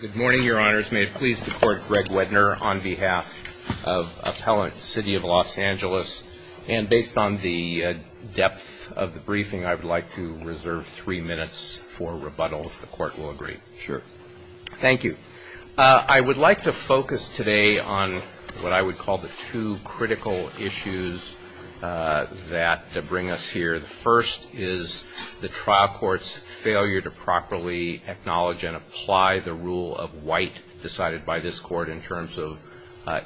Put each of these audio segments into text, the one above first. Good morning, Your Honors. May it please the Court, Greg Wedner, on behalf of Appellant City of Los Angeles. And based on the depth of the briefing, I would like to reserve three minutes for rebuttal, if the Court will agree. Sure. Thank you. I would like to focus today on what I would call the two critical issues that bring us to the rule of white decided by this Court in terms of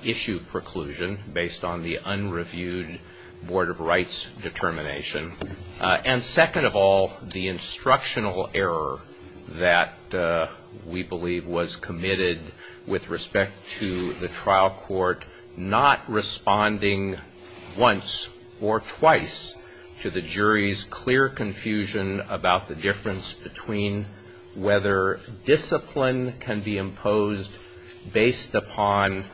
issue preclusion based on the unreviewed Board of Rights determination. And second of all, the instructional error that we believe was committed with respect to the trial court not responding once or twice to the jury's clear confusion about the difference between whether discipline can be imposed based upon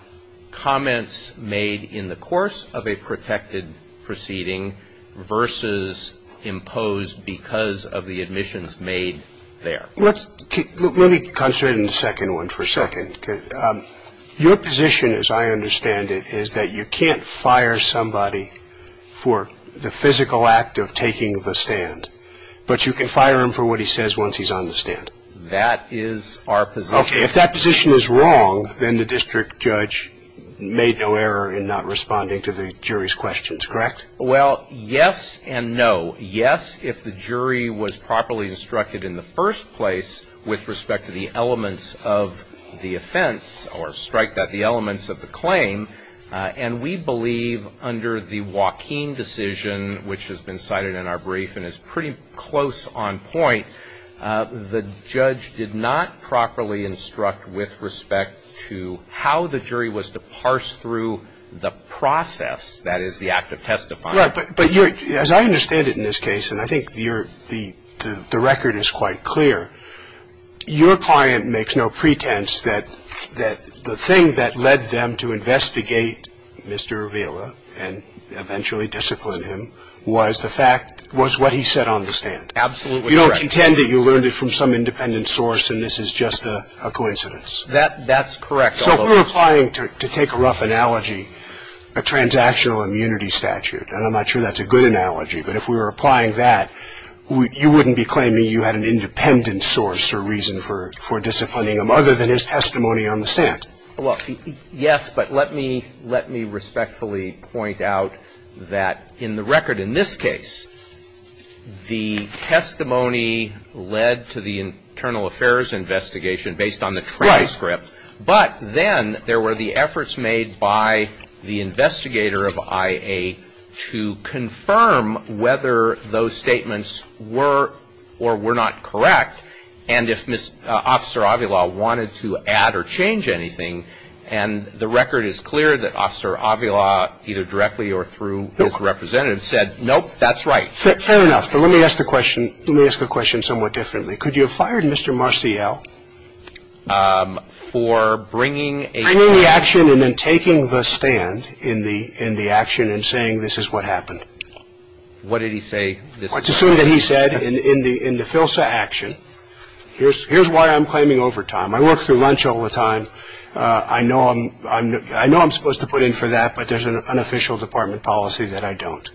comments made in the course of a protected proceeding versus imposed because of the admissions made there. Let's, let me concentrate on the second one for a second. Your position, as I understand it, is that you can't fire somebody for the physical act of taking the stand, but you can fire him for what he says once he's on the stand. That is our position. Okay. If that position is wrong, then the district judge made no error in not responding to the jury's questions, correct? Well, yes and no. Yes, if the jury was properly instructed in the first place with respect to the elements of the offense or strike that, the elements of the claim. And we believe under the Joaquin decision, which has been cited in our brief and is pretty close on point, the judge did not properly instruct with respect to how the jury was to parse through the process that is the act of testifying. Right. But, but your, as I understand it in this case, and I think your, the, the record is quite clear, your client makes no pretense that, that the thing that led them to investigate Mr. Avila and eventually discipline him was the fact, was what he said on the stand. Absolutely correct. You don't contend that you learned it from some independent source and this is just a, a coincidence. That, that's correct. So if we're applying, to, to take a rough analogy, a transactional immunity statute, and I'm not sure that's a good analogy, but if we were applying that, we, you wouldn't be claiming you had an independent source or reason for, for disciplining him other than his testimony on the stand. Well, yes, but let me, let me respectfully point out that in the record in this case, the testimony led to the internal affairs investigation based on the transcript, but then there were the efforts made by the investigator of IA to confirm whether those statements were or were not correct, and if Ms., Officer Avila wanted to add or change anything, and the record is clear that Officer Avila, either directly or through his representative, said, nope, that's right. Fair, fair enough, but let me ask the question, let me ask the question somewhat differently. Could you have fired Mr. Marciel? For bringing a... Bringing the action and then taking the stand in the, in the action and saying this is what happened. What did he say? What's assumed that he said in, in the, in the FILSA action. Here's, here's why I'm claiming overtime. I work through lunch all the time. I know I'm, I'm, I know I'm supposed to put in for that, but there's an, an official department policy that I don't.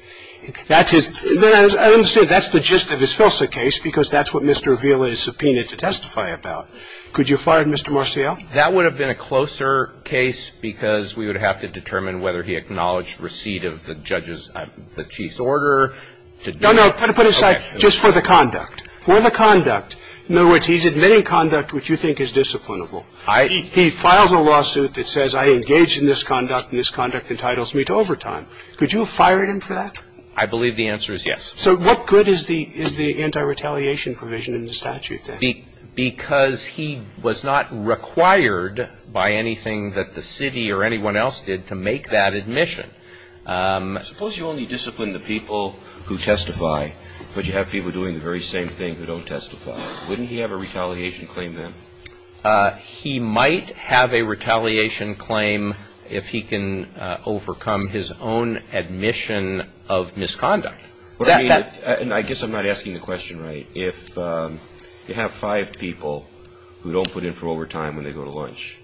That's his, I understand that's the gist of his FILSA case because that's what Mr. Avila is subpoenaed to testify about. Could you have fired Mr. Marciel? That would have been a closer case because we would have to determine whether he acknowledged receipt of the judge's, the chief's order to do... No, no, put it aside, just for the conduct. For the conduct, in other words, he's admitting conduct which you think is disciplinable. I... He files a lawsuit that says I engaged in this conduct and this conduct entitles me to overtime. Could you have fired him for that? I believe the answer is yes. So what good is the, is the anti-retaliation provision in the statute then? Because he was not required by anything that the city or anyone else did to make that admission. Suppose you only discipline the people who testify, but you have people doing the very same thing who don't testify. Wouldn't he have a retaliation claim then? He might have a retaliation claim if he can overcome his own admission of misconduct. That, that... And I guess I'm not asking the question right. If you have five people who don't put in for overtime when they go to lunch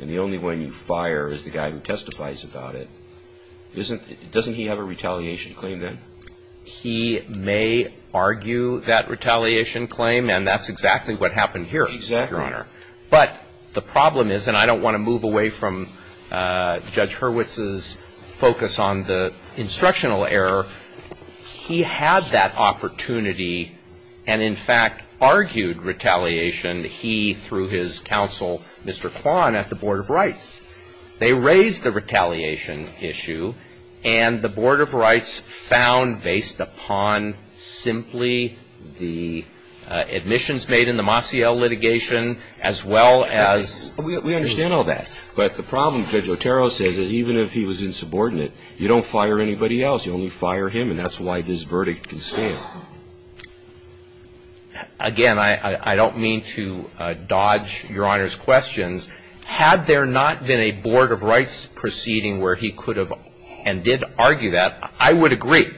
and the only one you fire is the guy who testifies about it, doesn't he have a retaliation claim then? He may argue that retaliation claim and that's exactly what happened here. Exactly. Your Honor. But the problem is, and I don't want to move away from Judge Hurwitz's focus on the instructional error, he had that opportunity and in fact argued retaliation, he through his counsel, Mr. Kwan at the Board of Rights. They raised the retaliation issue and the Board of Rights found based upon simply the admissions made in the Mossiel litigation as well as... We understand all that, but the problem, Judge Otero says, is even if he was insubordinate, you don't fire anybody else. You only fire him and that's why this verdict can stand. Again, I don't mean to dodge Your Honor's questions. Had there not been a Board of Rights proceeding where he could have and did argue that, I would agree.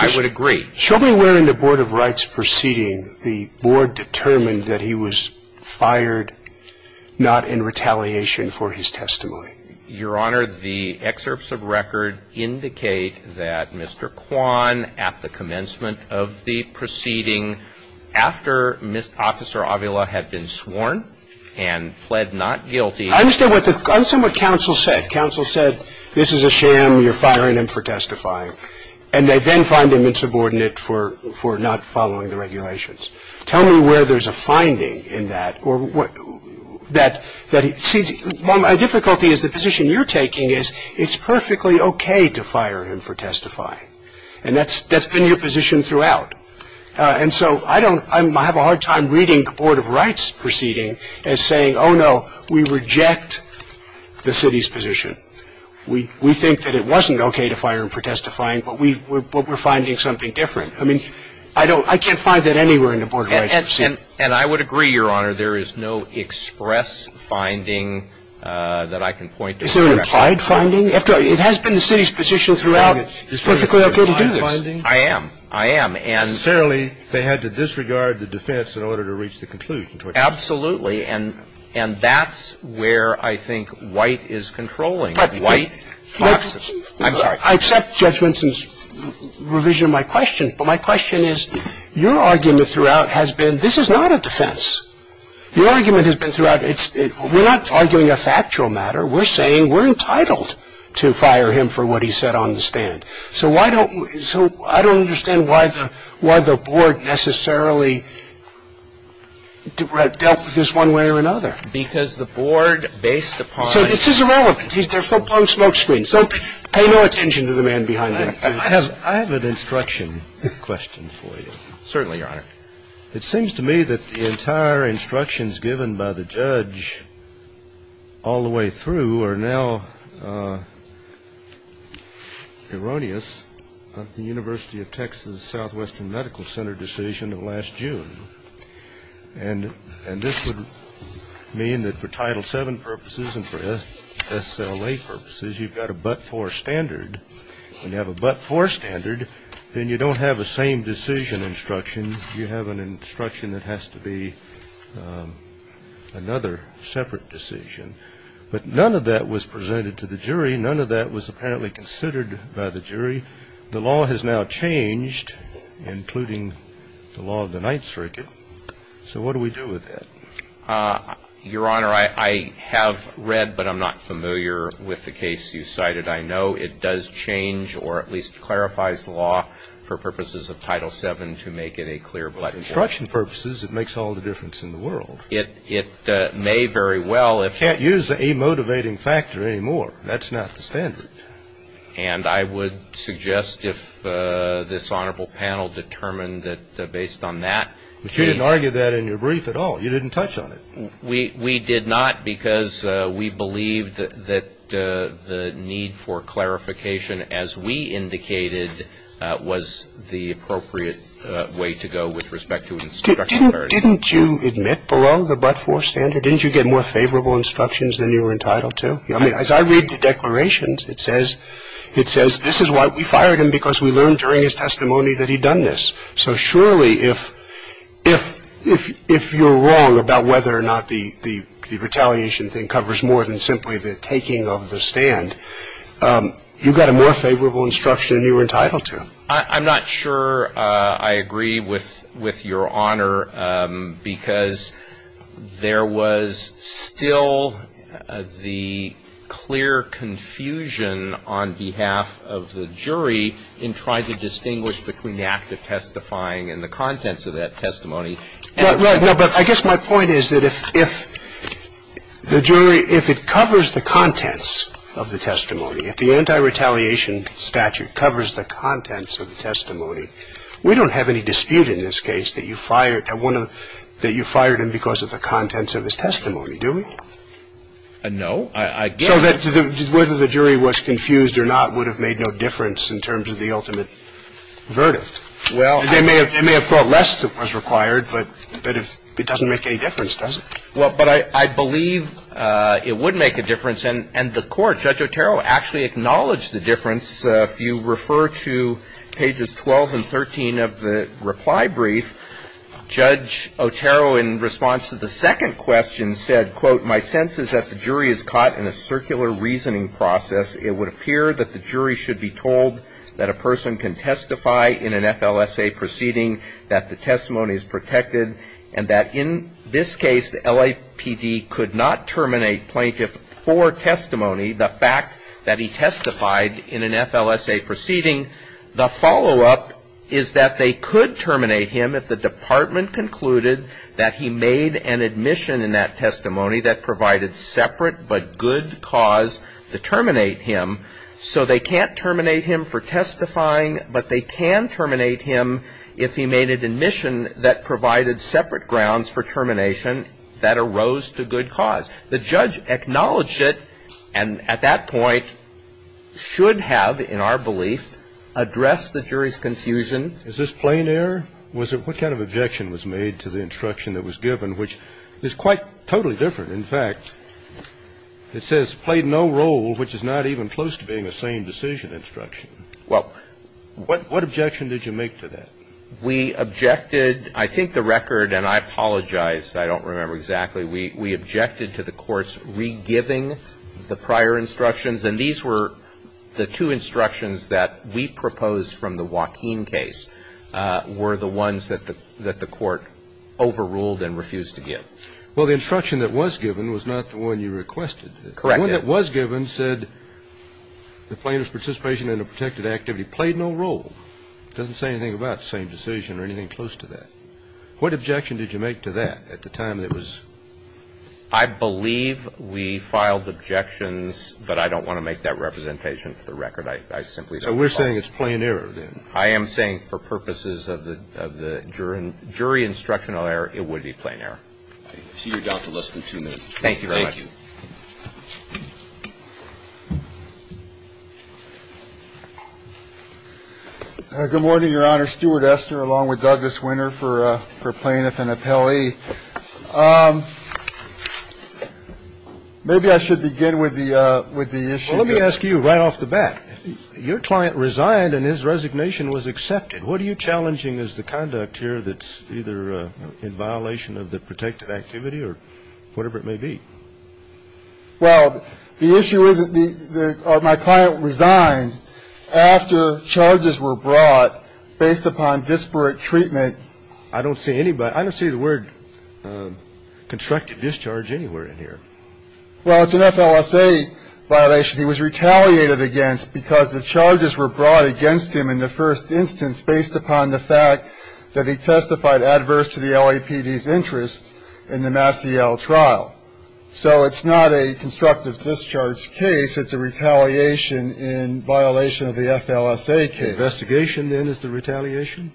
I would agree. Show me where in the Board of Rights proceeding the Board determined that he was fired, not in retaliation for his testimony. Your Honor, the excerpts of record indicate that Mr. Kwan at the commencement of the proceeding after Officer Avila had been sworn and pled not guilty... I understand what counsel said. Counsel said, this is a sham, you're firing him for testifying. And they then find him insubordinate for not following the regulations. Tell me where there's a finding in that or what... that it seems... My difficulty is the position you're taking is it's perfectly okay to fire him for testifying. And that's been your position throughout. And so I don't... I have a hard time reading the Board of Rights proceeding as saying, oh no, we reject the city's position. We think that it wasn't okay to fire him for testifying, but we're finding something different. I mean, I can't find that anywhere in the Board of Rights proceeding. And I would agree, Your Honor, there is no express finding that I can point to. Is there an implied finding? It has been the city's position throughout, it's perfectly okay to do this. I am. I am. Necessarily, they had to disregard the defense in order to reach the conclusion. Absolutely. And that's where I think White is controlling. White... I'm sorry. I accept Judge Vinson's revision of my question. But my question is, your argument throughout has been, this is not a defense. Your argument has been throughout, we're not arguing a factual matter. We're saying we're entitled to fire him for what he said on the stand. So I don't understand why the Board necessarily dealt with this one way or another. Because the Board, based upon... So this is irrelevant. They're full-blown smokescreens. So pay no attention to the man behind him. I have an instruction question for you. Certainly, Your Honor. It seems to me that the entire instructions given by the judge all the way through are now erroneous of the University of Texas Southwestern Medical Center decision of last June. And this would mean that for Title VII purposes and for SLA purposes, you've got a but-for standard. When you have a but-for standard, then you don't have the same decision instruction. You have an instruction that has to be another separate decision. But none of that was presented to the jury. None of that was apparently considered by the jury. The law has now changed, including the law of the Ninth Circuit. So what do we do with that? Your Honor, I have read, but I'm not familiar with the case you cited. I know it does change or at least clarifies the law for purposes of Title VII to make it a clear but-for. Instruction purposes, it makes all the difference in the world. It may very well, if- Can't use a motivating factor anymore. That's not the standard. And I would suggest if this honorable panel determined that based on that- But you didn't argue that in your brief at all. You didn't touch on it. We did not because we believe that the need for clarification, as we indicated, was the appropriate way to go with respect to instruction clarity. But didn't you admit below the but-for standard, didn't you get more favorable instructions than you were entitled to? I mean, as I read the declarations, it says, this is why we fired him because we learned during his testimony that he'd done this. So surely, if you're wrong about whether or not the retaliation thing covers more than simply the taking of the stand, you got a more favorable instruction than you were entitled to. I'm not sure I agree with your honor because there was still the clear confusion on behalf of the jury in trying to distinguish between the act of testifying and the contents of that testimony. But I guess my point is that if the jury, if it covers the contents of the testimony, if the anti-retaliation statute covers the contents of the testimony, we don't have any dispute in this case that you fired one of the – that you fired him because of the contents of his testimony, do we? No. I get it. So that whether the jury was confused or not would have made no difference in terms of the ultimate verdict. Well, I – They may have thought less was required, but it doesn't make any difference, does it? Well, but I believe it would make a difference, and the court, Judge Otero, actually acknowledged the difference. If you refer to pages 12 and 13 of the reply brief, Judge Otero, in response to the second question, said, quote, my sense is that the jury is caught in a circular reasoning process. It would appear that the jury should be told that a person can testify in an FLSA proceeding, that the testimony is protected, and that in this case, the LAPD could not terminate plaintiff for testimony, the fact that he testified in an FLSA proceeding. The follow-up is that they could terminate him if the department concluded that he made an admission in that testimony that provided separate but good cause to terminate him. So they can't terminate him for testifying, but they can terminate him if he made an admission that provided separate grounds for termination that arose to good cause. The judge acknowledged it and, at that point, should have, in our belief, addressed the jury's confusion. Is this plain error? Was it – what kind of objection was made to the instruction that was given, which is quite totally different? In fact, it says, played no role, which is not even close to being the same decision instruction. Well, what – what objection did you make to that? We objected – I think the record, and I apologize, I don't remember exactly. We – we objected to the court's re-giving the prior instructions, and these were the two instructions that we proposed from the Joaquin case were the ones that the – that the court overruled and refused to give. Well, the instruction that was given was not the one you requested. Correct. The one that was given said the plaintiff's participation in a protected activity played no role. It doesn't say anything about the same decision or anything close to that. What objection did you make to that at the time that it was? I believe we filed objections, but I don't want to make that representation for the record. I simply don't want to file it. So we're saying it's plain error, then? I am saying for purposes of the jury instructional error, it would be plain error. I see you're down to less than two minutes. Thank you very much. Thank you. Good morning, Your Honor. Stewart Estner, along with Douglas Winter for plaintiff and appellee. Maybe I should begin with the issue that you're raising. Well, let me ask you right off the bat. Your client resigned and his resignation was accepted. And what are you challenging as the conduct here that's either in violation of the protected activity or whatever it may be? Well, the issue is that my client resigned after charges were brought based upon disparate treatment. I don't see anybody – I don't see the word constructive discharge anywhere in here. Well, it's an FLSA violation. In fact, he was retaliated against because the charges were brought against him in the first instance based upon the fact that he testified adverse to the LAPD's interest in the Massiel trial. So it's not a constructive discharge case. It's a retaliation in violation of the FLSA case. Investigation, then, is the retaliation?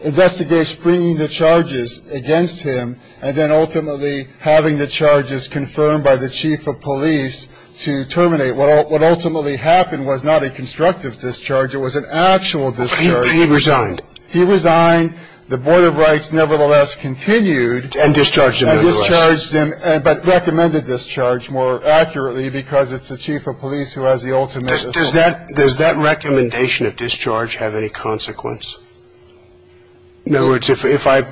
Investigates bringing the charges against him and then ultimately having the charges confirmed by the chief of police to terminate the charge. So the charge was not a constructive discharge, it was an actual discharge. He resigned. He resigned. The Board of Rights nevertheless continued and discharged him, but recommended discharge more accurately because it's the chief of police who has the ultimate authority. Does that recommendation of discharge have any consequence? In other words, if I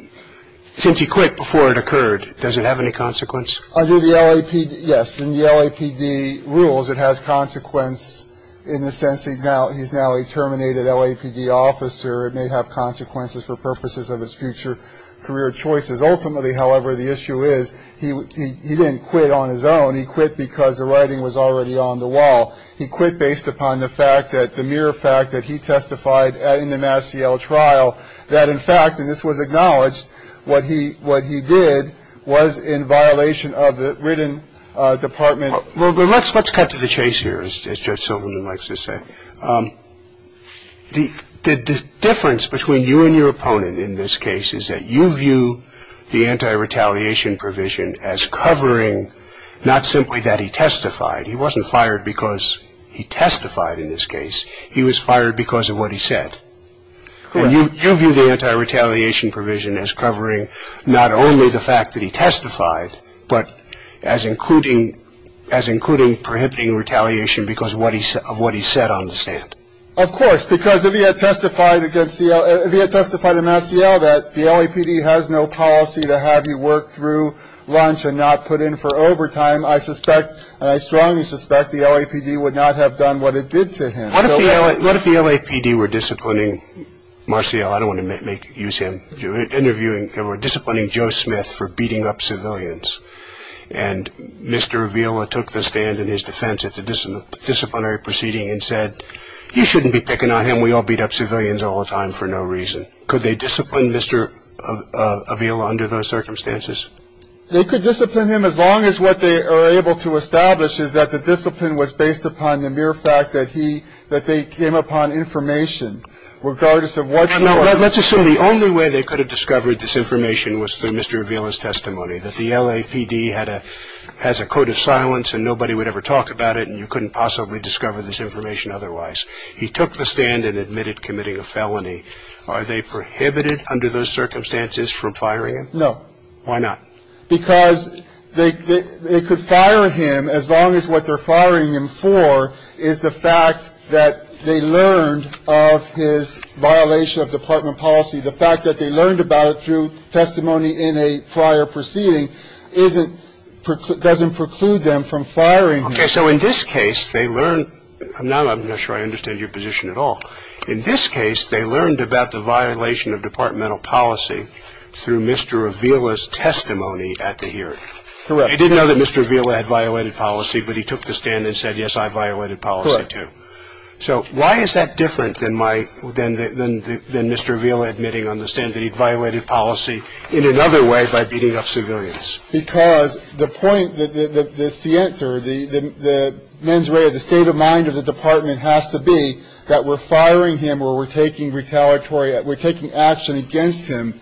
– since he quit before it occurred, does it have any consequence? Under the LAPD – yes. In the LAPD rules, it has consequence in the sense he's now a terminated LAPD officer. It may have consequences for purposes of his future career choices. Ultimately, however, the issue is he didn't quit on his own. He quit because the writing was already on the wall. He quit based upon the fact that – the mere fact that he testified in the Massiel trial that, in fact – and this was acknowledged – that what he – what he did was in violation of the written department – Well, let's cut to the chase here, as Judge Silverman likes to say. The difference between you and your opponent in this case is that you view the anti-retaliation provision as covering not simply that he testified. He wasn't fired because he testified in this case. He was fired because of what he said. And you view the anti-retaliation provision as covering not only the fact that he testified, but as including – as including prohibiting retaliation because of what he said on the stand. Of course, because if he had testified against – if he had testified in Massiel that the LAPD has no policy to have you work through lunch and not put in for overtime, I suspect – and I strongly suspect – the LAPD would not have done what it did to him. What if the LAPD were disciplining Massiel – I don't want to make – use him – interviewing – they were disciplining Joe Smith for beating up civilians, and Mr. Avila took the stand in his defense at the disciplinary proceeding and said, you shouldn't be picking on him, we all beat up civilians all the time for no reason. Could they discipline Mr. Avila under those circumstances? They could discipline him as long as what they are able to establish is that the discipline was based upon the mere fact that he – that they came upon information, regardless of what – Now, let's assume the only way they could have discovered this information was through Mr. Avila's testimony, that the LAPD had a – has a code of silence and nobody would ever talk about it, and you couldn't possibly discover this information otherwise. He took the stand and admitted committing a felony. Are they prohibited under those circumstances from firing him? No. Why not? Because they could fire him as long as what they're firing him for is the fact that they learned of his violation of department policy. The fact that they learned about it through testimony in a prior proceeding isn't – doesn't preclude them from firing him. Okay. So in this case, they learned – I'm not sure I understand your position at all. In this case, they learned about the violation of departmental policy through Mr. Avila's testimony at the hearing. Correct. They didn't know that Mr. Avila had violated policy, but he took the stand and said, yes, I violated policy too. Correct. So why is that different than my – than Mr. Avila admitting on the stand that he violated policy in another way by beating up civilians? Because the point – the siente or the mens rea, the state of mind of the department has to be that we're firing him or we're taking retaliatory – we're taking action against him,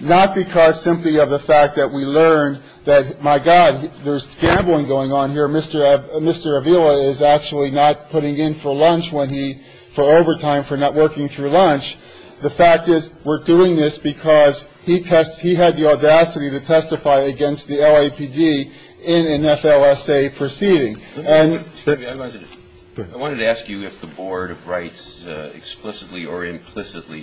not because simply of the fact that we learned that, my God, there's gambling going on here. Mr. Avila is actually not putting in for lunch when he – for overtime, for not working through lunch. The fact is we're doing this because he had the audacity to testify against the LAPD in an FLSA proceeding. And – Excuse me, I wanted to – I wanted to ask you if the Board of Rights explicitly or implicitly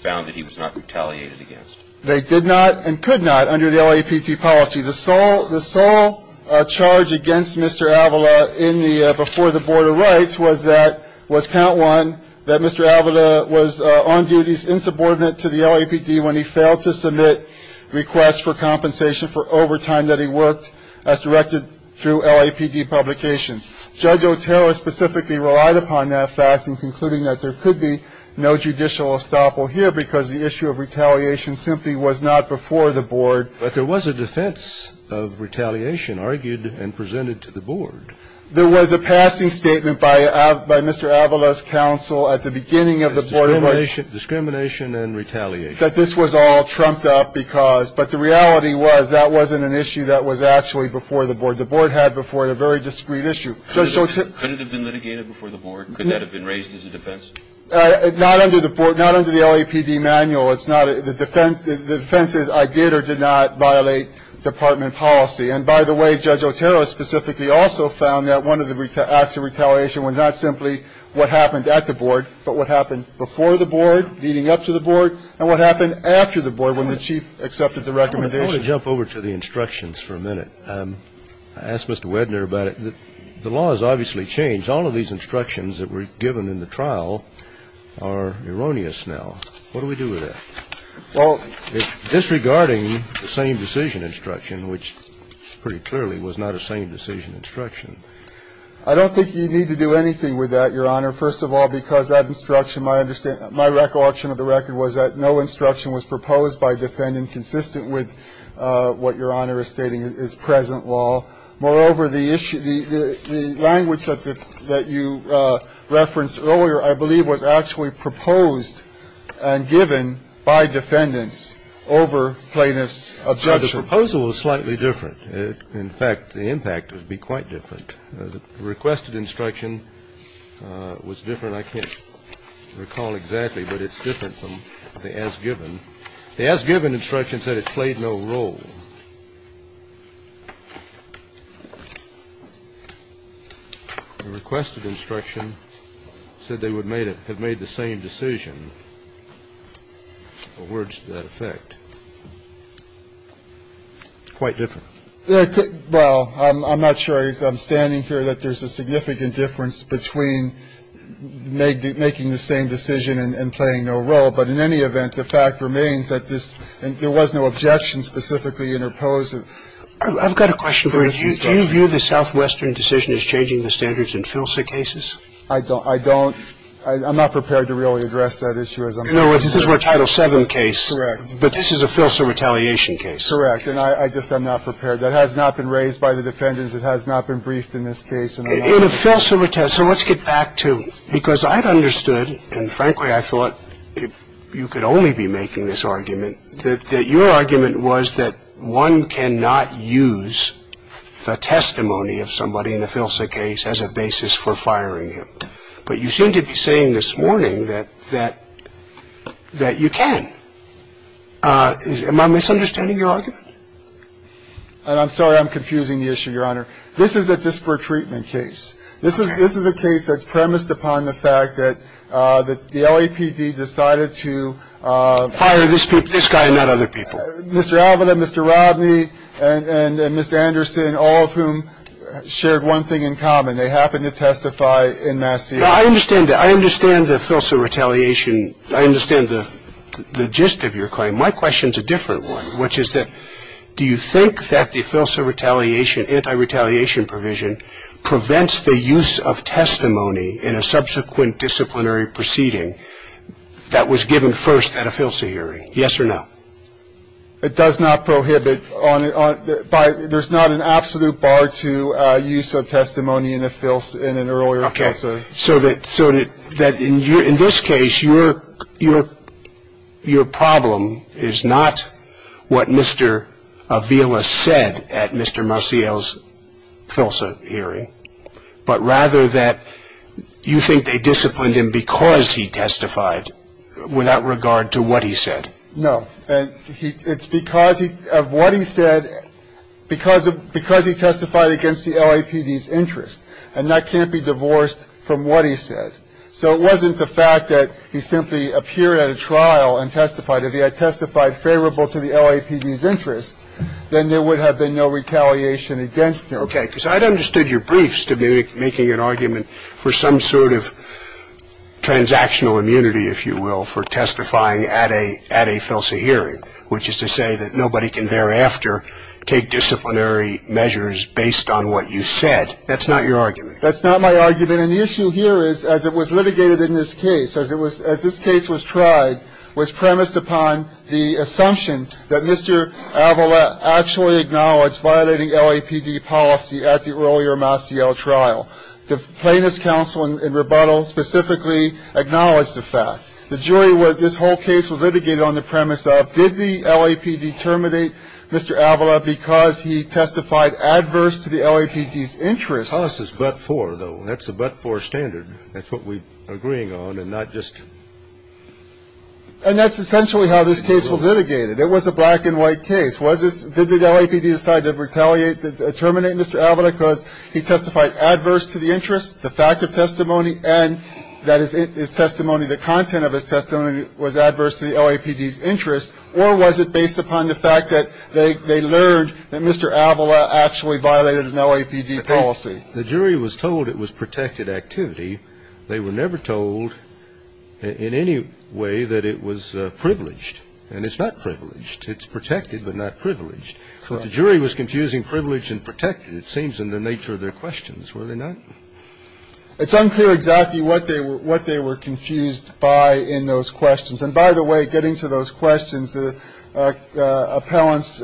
found that he was not retaliated against. They did not and could not under the LAPD policy. The sole – the sole charge against Mr. Avila in the – before the Board of Rights was that – was count one, that Mr. Avila was on duties insubordinate to the LAPD when he failed to submit requests for compensation for overtime that he worked as directed through LAPD publications. Judge Otero specifically relied upon that fact in concluding that there could be no judicial estoppel here because the issue of retaliation simply was not before the Board. But there was a defense of retaliation argued and presented to the Board. There was a passing statement by – by Mr. Avila's counsel at the beginning of the Board of Rights. Discrimination and retaliation. That this was all trumped up because – but the reality was that wasn't an issue that was actually before the Board. The Board had before it a very discreet issue. Judge Otero – Could it have been litigated before the Board? Could that have been raised as a defense? Not under the Board. Not under the LAPD manual. It's not a – the defense – the defense is I did or did not violate department policy. And by the way, Judge Otero specifically also found that one of the acts of retaliation was not simply what happened at the Board, but what happened before the Board, leading up to the Board, and what happened after the Board when the chief accepted the recommendation. I want to jump over to the instructions for a minute. I asked Mr. Wedner about it. The law has obviously changed. All of these instructions that were given in the trial are erroneous now. What do we do with that? Well, it's disregarding the same decision instruction, which pretty clearly was not a same decision instruction. I don't think you need to do anything with that, Your Honor. First of all, because that instruction, my understanding – my recollection of the record was that no instruction was proposed by defendant consistent with what Your Honor is stating is present law. Moreover, the issue – the language that you referenced earlier, I believe, was actually proposed and given by defendants over plaintiffs' objection. Well, the proposal was slightly different. In fact, the impact would be quite different. The requested instruction was different. I can't recall exactly, but it's different from the as-given. The as-given instruction said it played no role. The requested instruction said they would have made the same decision, or words to that effect. Quite different. Well, I'm not sure, as I'm standing here, that there's a significant difference between making the same decision and playing no role. But in any event, the fact remains that this – and there was no objection specifically to the proposed – I've got a question for you. Do you view the southwestern decision as changing the standards in FILSA cases? I don't. I don't – I'm not prepared to really address that issue, as I'm standing here. In other words, this is a Title VII case. Correct. But this is a FILSA retaliation case. Correct. And I just am not prepared. That has not been raised by the defendants. It has not been briefed in this case. In a FILSA – so let's get back to – because I'd understood, and frankly, I thought that if you could only be making this argument, that your argument was that one cannot use the testimony of somebody in a FILSA case as a basis for firing him. But you seem to be saying this morning that – that you can. Am I misunderstanding your argument? I'm sorry I'm confusing the issue, Your Honor. This is a disparate treatment case. This is a case that's premised upon the fact that the LAPD decided to – Fire this guy and not other people. Mr. Alvada, Mr. Rodney, and Ms. Anderson, all of whom shared one thing in common. They happened to testify in Massachusetts. Now, I understand that. I understand the FILSA retaliation – I understand the gist of your claim. My question's a different one, which is that do you think that the FILSA retaliation – the use of testimony in a subsequent disciplinary proceeding that was given first at a FILSA hearing? Yes or no? It does not prohibit – there's not an absolute bar to use of testimony in a FILSA – in an earlier FILSA – So that – so that in your – in this case, your – your problem is not what Mr. Avila said at Mr. Marcial's FILSA hearing, but rather that you think they disciplined him because he testified without regard to what he said. No. And he – it's because he – of what he said because of – because he testified against the LAPD's interest. And that can't be divorced from what he said. So it wasn't the fact that he simply appeared at a trial and testified. If he had testified favorable to the LAPD's interest, then there would have been no retaliation against him. Okay, because I'd understood your briefs to be making an argument for some sort of transactional immunity, if you will, for testifying at a – at a FILSA hearing, which is to say that nobody can thereafter take disciplinary measures based on what you said. That's not your argument. That's not my argument. And the issue here is, as it was litigated in this case, as it was – as this case was tried, was premised upon the assumption that Mr. Avila actually acknowledged violating LAPD policy at the earlier Marcial trial. The Plaintiffs' Counsel in rebuttal specifically acknowledged the fact. The jury was – this whole case was litigated on the premise of, did the LAPD terminate Mr. Avila because he testified adverse to the LAPD's interest? The cost is but-for, though. That's a but-for standard. That's what we're agreeing on and not just – And that's essentially how this case was litigated. It was a black-and-white case. Was this – did the LAPD decide to retaliate, to terminate Mr. Avila because he testified adverse to the interest, the fact of testimony, and that his testimony, the content of his testimony was adverse to the LAPD's interest, or was it based upon the fact that they learned that Mr. Avila actually violated an LAPD policy? The jury was told it was protected activity. They were never told in any way that it was privileged, and it's not privileged. It's protected, but not privileged. So the jury was confusing privileged and protected, it seems, in the nature of their questions, were they not? It's unclear exactly what they were confused by in those questions. And by the way, getting to those questions, appellants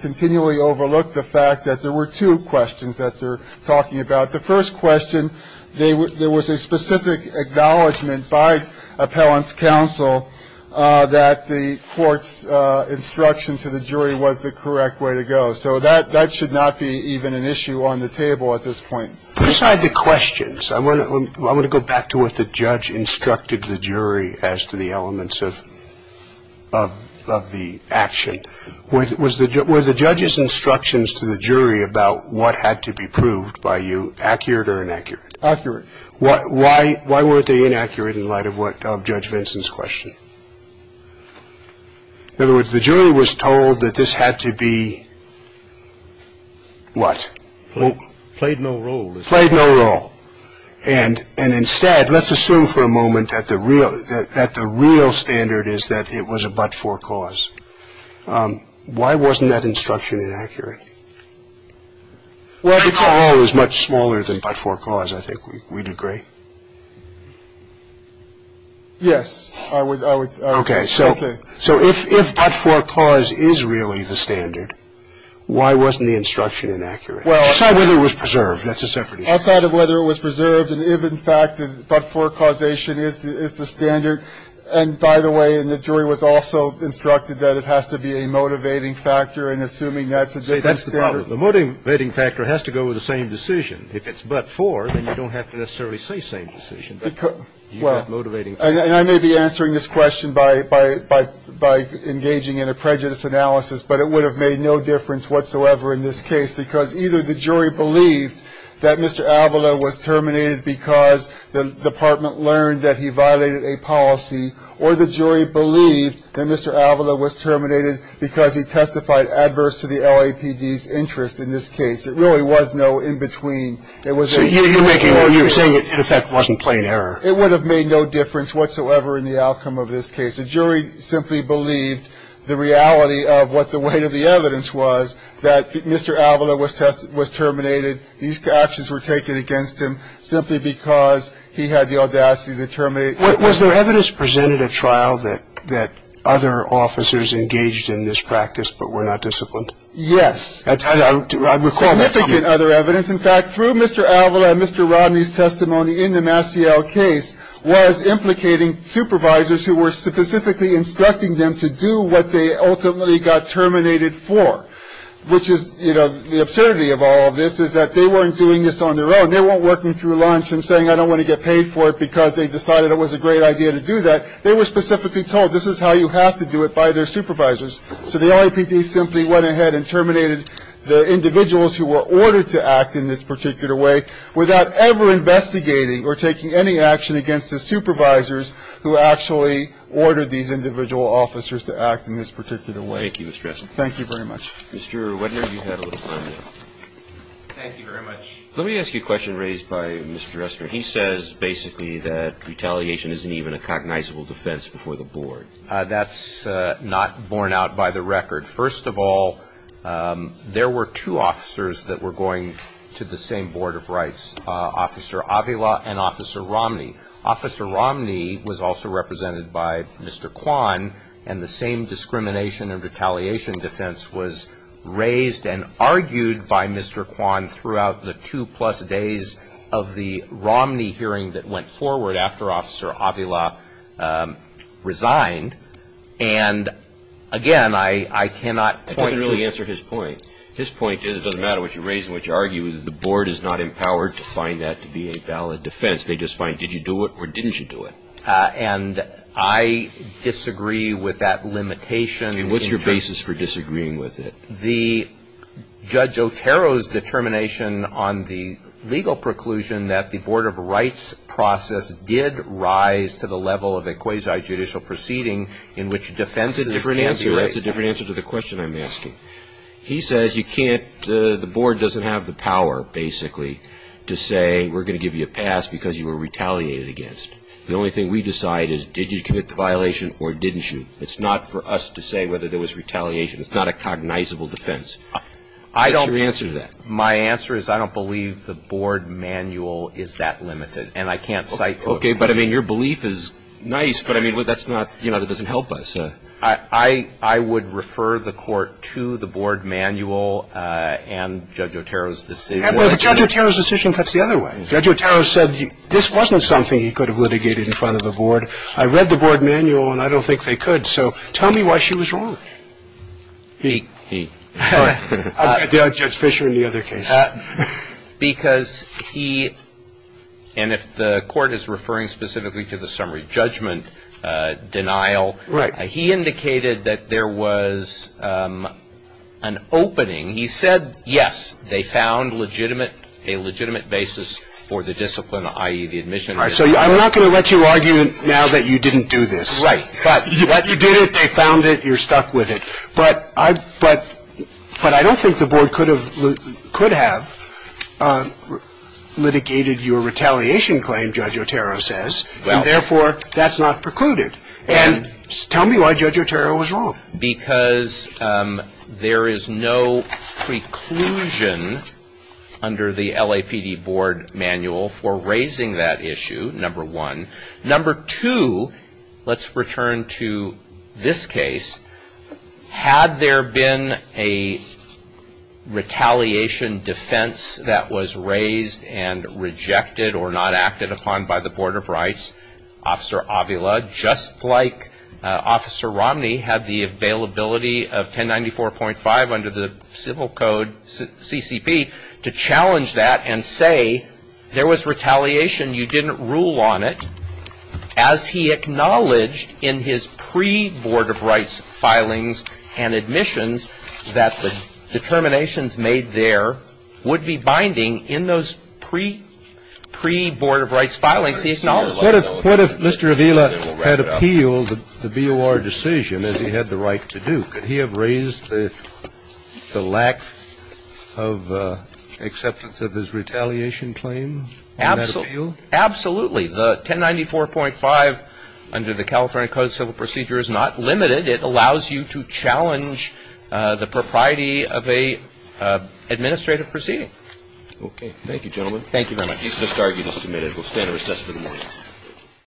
continually overlooked the fact that there were two questions that they're talking about. The first question, there was a specific acknowledgment by appellant's counsel that the court's instruction to the jury was the correct way to go. So that should not be even an issue on the table at this point. Besides the questions, I want to go back to what the judge instructed the jury as to the elements of the action. Were the judge's instructions to the jury about what had to be proved by you accurate or inaccurate? Accurate. Why weren't they inaccurate in light of Judge Vinson's question? In other words, the jury was told that this had to be what? Well, played no role. Played no role. And and instead, let's assume for a moment that the real that the real standard is that it was a but for cause. Why wasn't that instruction inaccurate? Well, it was much smaller than but for cause. I think we'd agree. Yes, I would. OK, so. So if but for cause is really the standard, why wasn't the instruction inaccurate? Well, aside whether it was preserved. That's a separate issue. Outside of whether it was preserved. And if in fact, but for causation is the standard. And by the way, the jury was also instructed that it has to be a motivating factor. And assuming that's the case, that's the problem. The motivating factor has to go with the same decision. If it's but for, then you don't have to necessarily say same decision. But well, motivating and I may be answering this question by by by by engaging in a prejudice analysis, but it would have made no difference whatsoever in this case because either the jury believed that Mr. Avila was terminated because the department learned that he violated a policy or the jury believed that Mr. Avila was terminated because he testified adverse to the LAPD's interest in this case. It really was no in between. It was a you're making you're saying it wasn't plain error. It would have made no difference whatsoever in the outcome of this case. The jury simply believed the reality of what the weight of the evidence was that Mr. Avila was tested, was terminated. These actions were taken against him simply because he had the audacity to terminate. Was there evidence presented at trial that that other officers engaged in this practice but were not disciplined? Yes. I don't recall that other evidence. In fact, through Mr. Avila and Mr. Romney's testimony in the Massiel case was implicating supervisors who were specifically instructing them to do what they ultimately got terminated for, which is, you know, the absurdity of all of this is that they weren't doing this on their own. They weren't working through lunch and saying, I don't want to get paid for it because they decided it was a great idea to do that. They were specifically told this is how you have to do it by their supervisors. So the LAPD simply went ahead and terminated the individuals who were ordered to act in this particular way without ever investigating or taking any action against the supervisors who actually ordered these individual officers to act in this particular way. Thank you, Mr. Ressner. Thank you very much. Mr. Wedner, you've had a little time now. Thank you very much. Let me ask you a question raised by Mr. Ressner. He says basically that retaliation isn't even a cognizable defense before the board. That's not borne out by the record. First of all, there were two officers that were going to the same Board of Rights, Officer Avila and Officer Romney. Officer Romney was also represented by Mr. Kwan, and the same discrimination and retaliation defense was raised and argued by Mr. Kwan throughout the two plus days of the Romney hearing that went forward after Officer Avila resigned. And again, I cannot point to- That doesn't really answer his point. His point is it doesn't matter what you raise and what you argue. The board is not empowered to find that to be a valid defense. They just find did you do it or didn't you do it? And I disagree with that limitation. And what's your basis for disagreeing with it? The Judge Otero's determination on the legal preclusion that the Board of Rights process did rise to the level of a quasi-judicial proceeding in which defense- That's a different answer. That's a different answer to the question I'm asking. He says you can't, the board doesn't have the power basically to say we're going to give you a pass because you were retaliated against. The only thing we decide is did you commit the violation or didn't you? It's not for us to say whether there was retaliation. It's not a cognizable defense. What's your answer to that? My answer is I don't believe the board manual is that limited. And I can't cite- Okay. But I mean, your belief is nice. But I mean, that's not, you know, that doesn't help us. I would refer the Court to the board manual and Judge Otero's decision. But Judge Otero's decision cuts the other way. Judge Otero said this wasn't something he could have litigated in front of the board. I read the board manual, and I don't think they could. So tell me why she was wrong. He. He. All right. I'll judge Fisher in the other case. Because he, and if the Court is referring specifically to the summary judgment denial- Right. He indicated that there was an opening. He said, yes, they found legitimate, a legitimate basis for the discipline, i.e., the admission. All right. So I'm not going to let you argue now that you didn't do this. Right. But- You did it. They found it. You're stuck with it. But I don't think the board could have litigated your retaliation claim, Judge Otero says. And therefore, that's not precluded. And tell me why Judge Otero was wrong. Because there is no preclusion under the LAPD board manual for raising that issue, number one. Number two, let's return to this case. Had there been a retaliation defense that was raised and rejected or not acted upon by the Board of Rights, Officer Avila, just like Officer Romney had the availability of 1094.5 under the civil code, CCP, to challenge that and say, there was retaliation. You didn't rule on it, as he acknowledged in his pre-Board of Rights filings and admissions that the determinations made there would be binding in those pre-Board of Rights filings. He acknowledged- What if Mr. Avila had appealed the BOR decision as he had the right to do? Could he have raised the lack of acceptance of his retaliation claim on that appeal? Absolutely. The 1094.5 under the California Code of Civil Procedure is not limited. It allows you to challenge the propriety of an administrative proceeding. Okay. Thank you, gentlemen. Thank you very much. He's disbarred. You've been submitted. We'll stand at recess for the morning.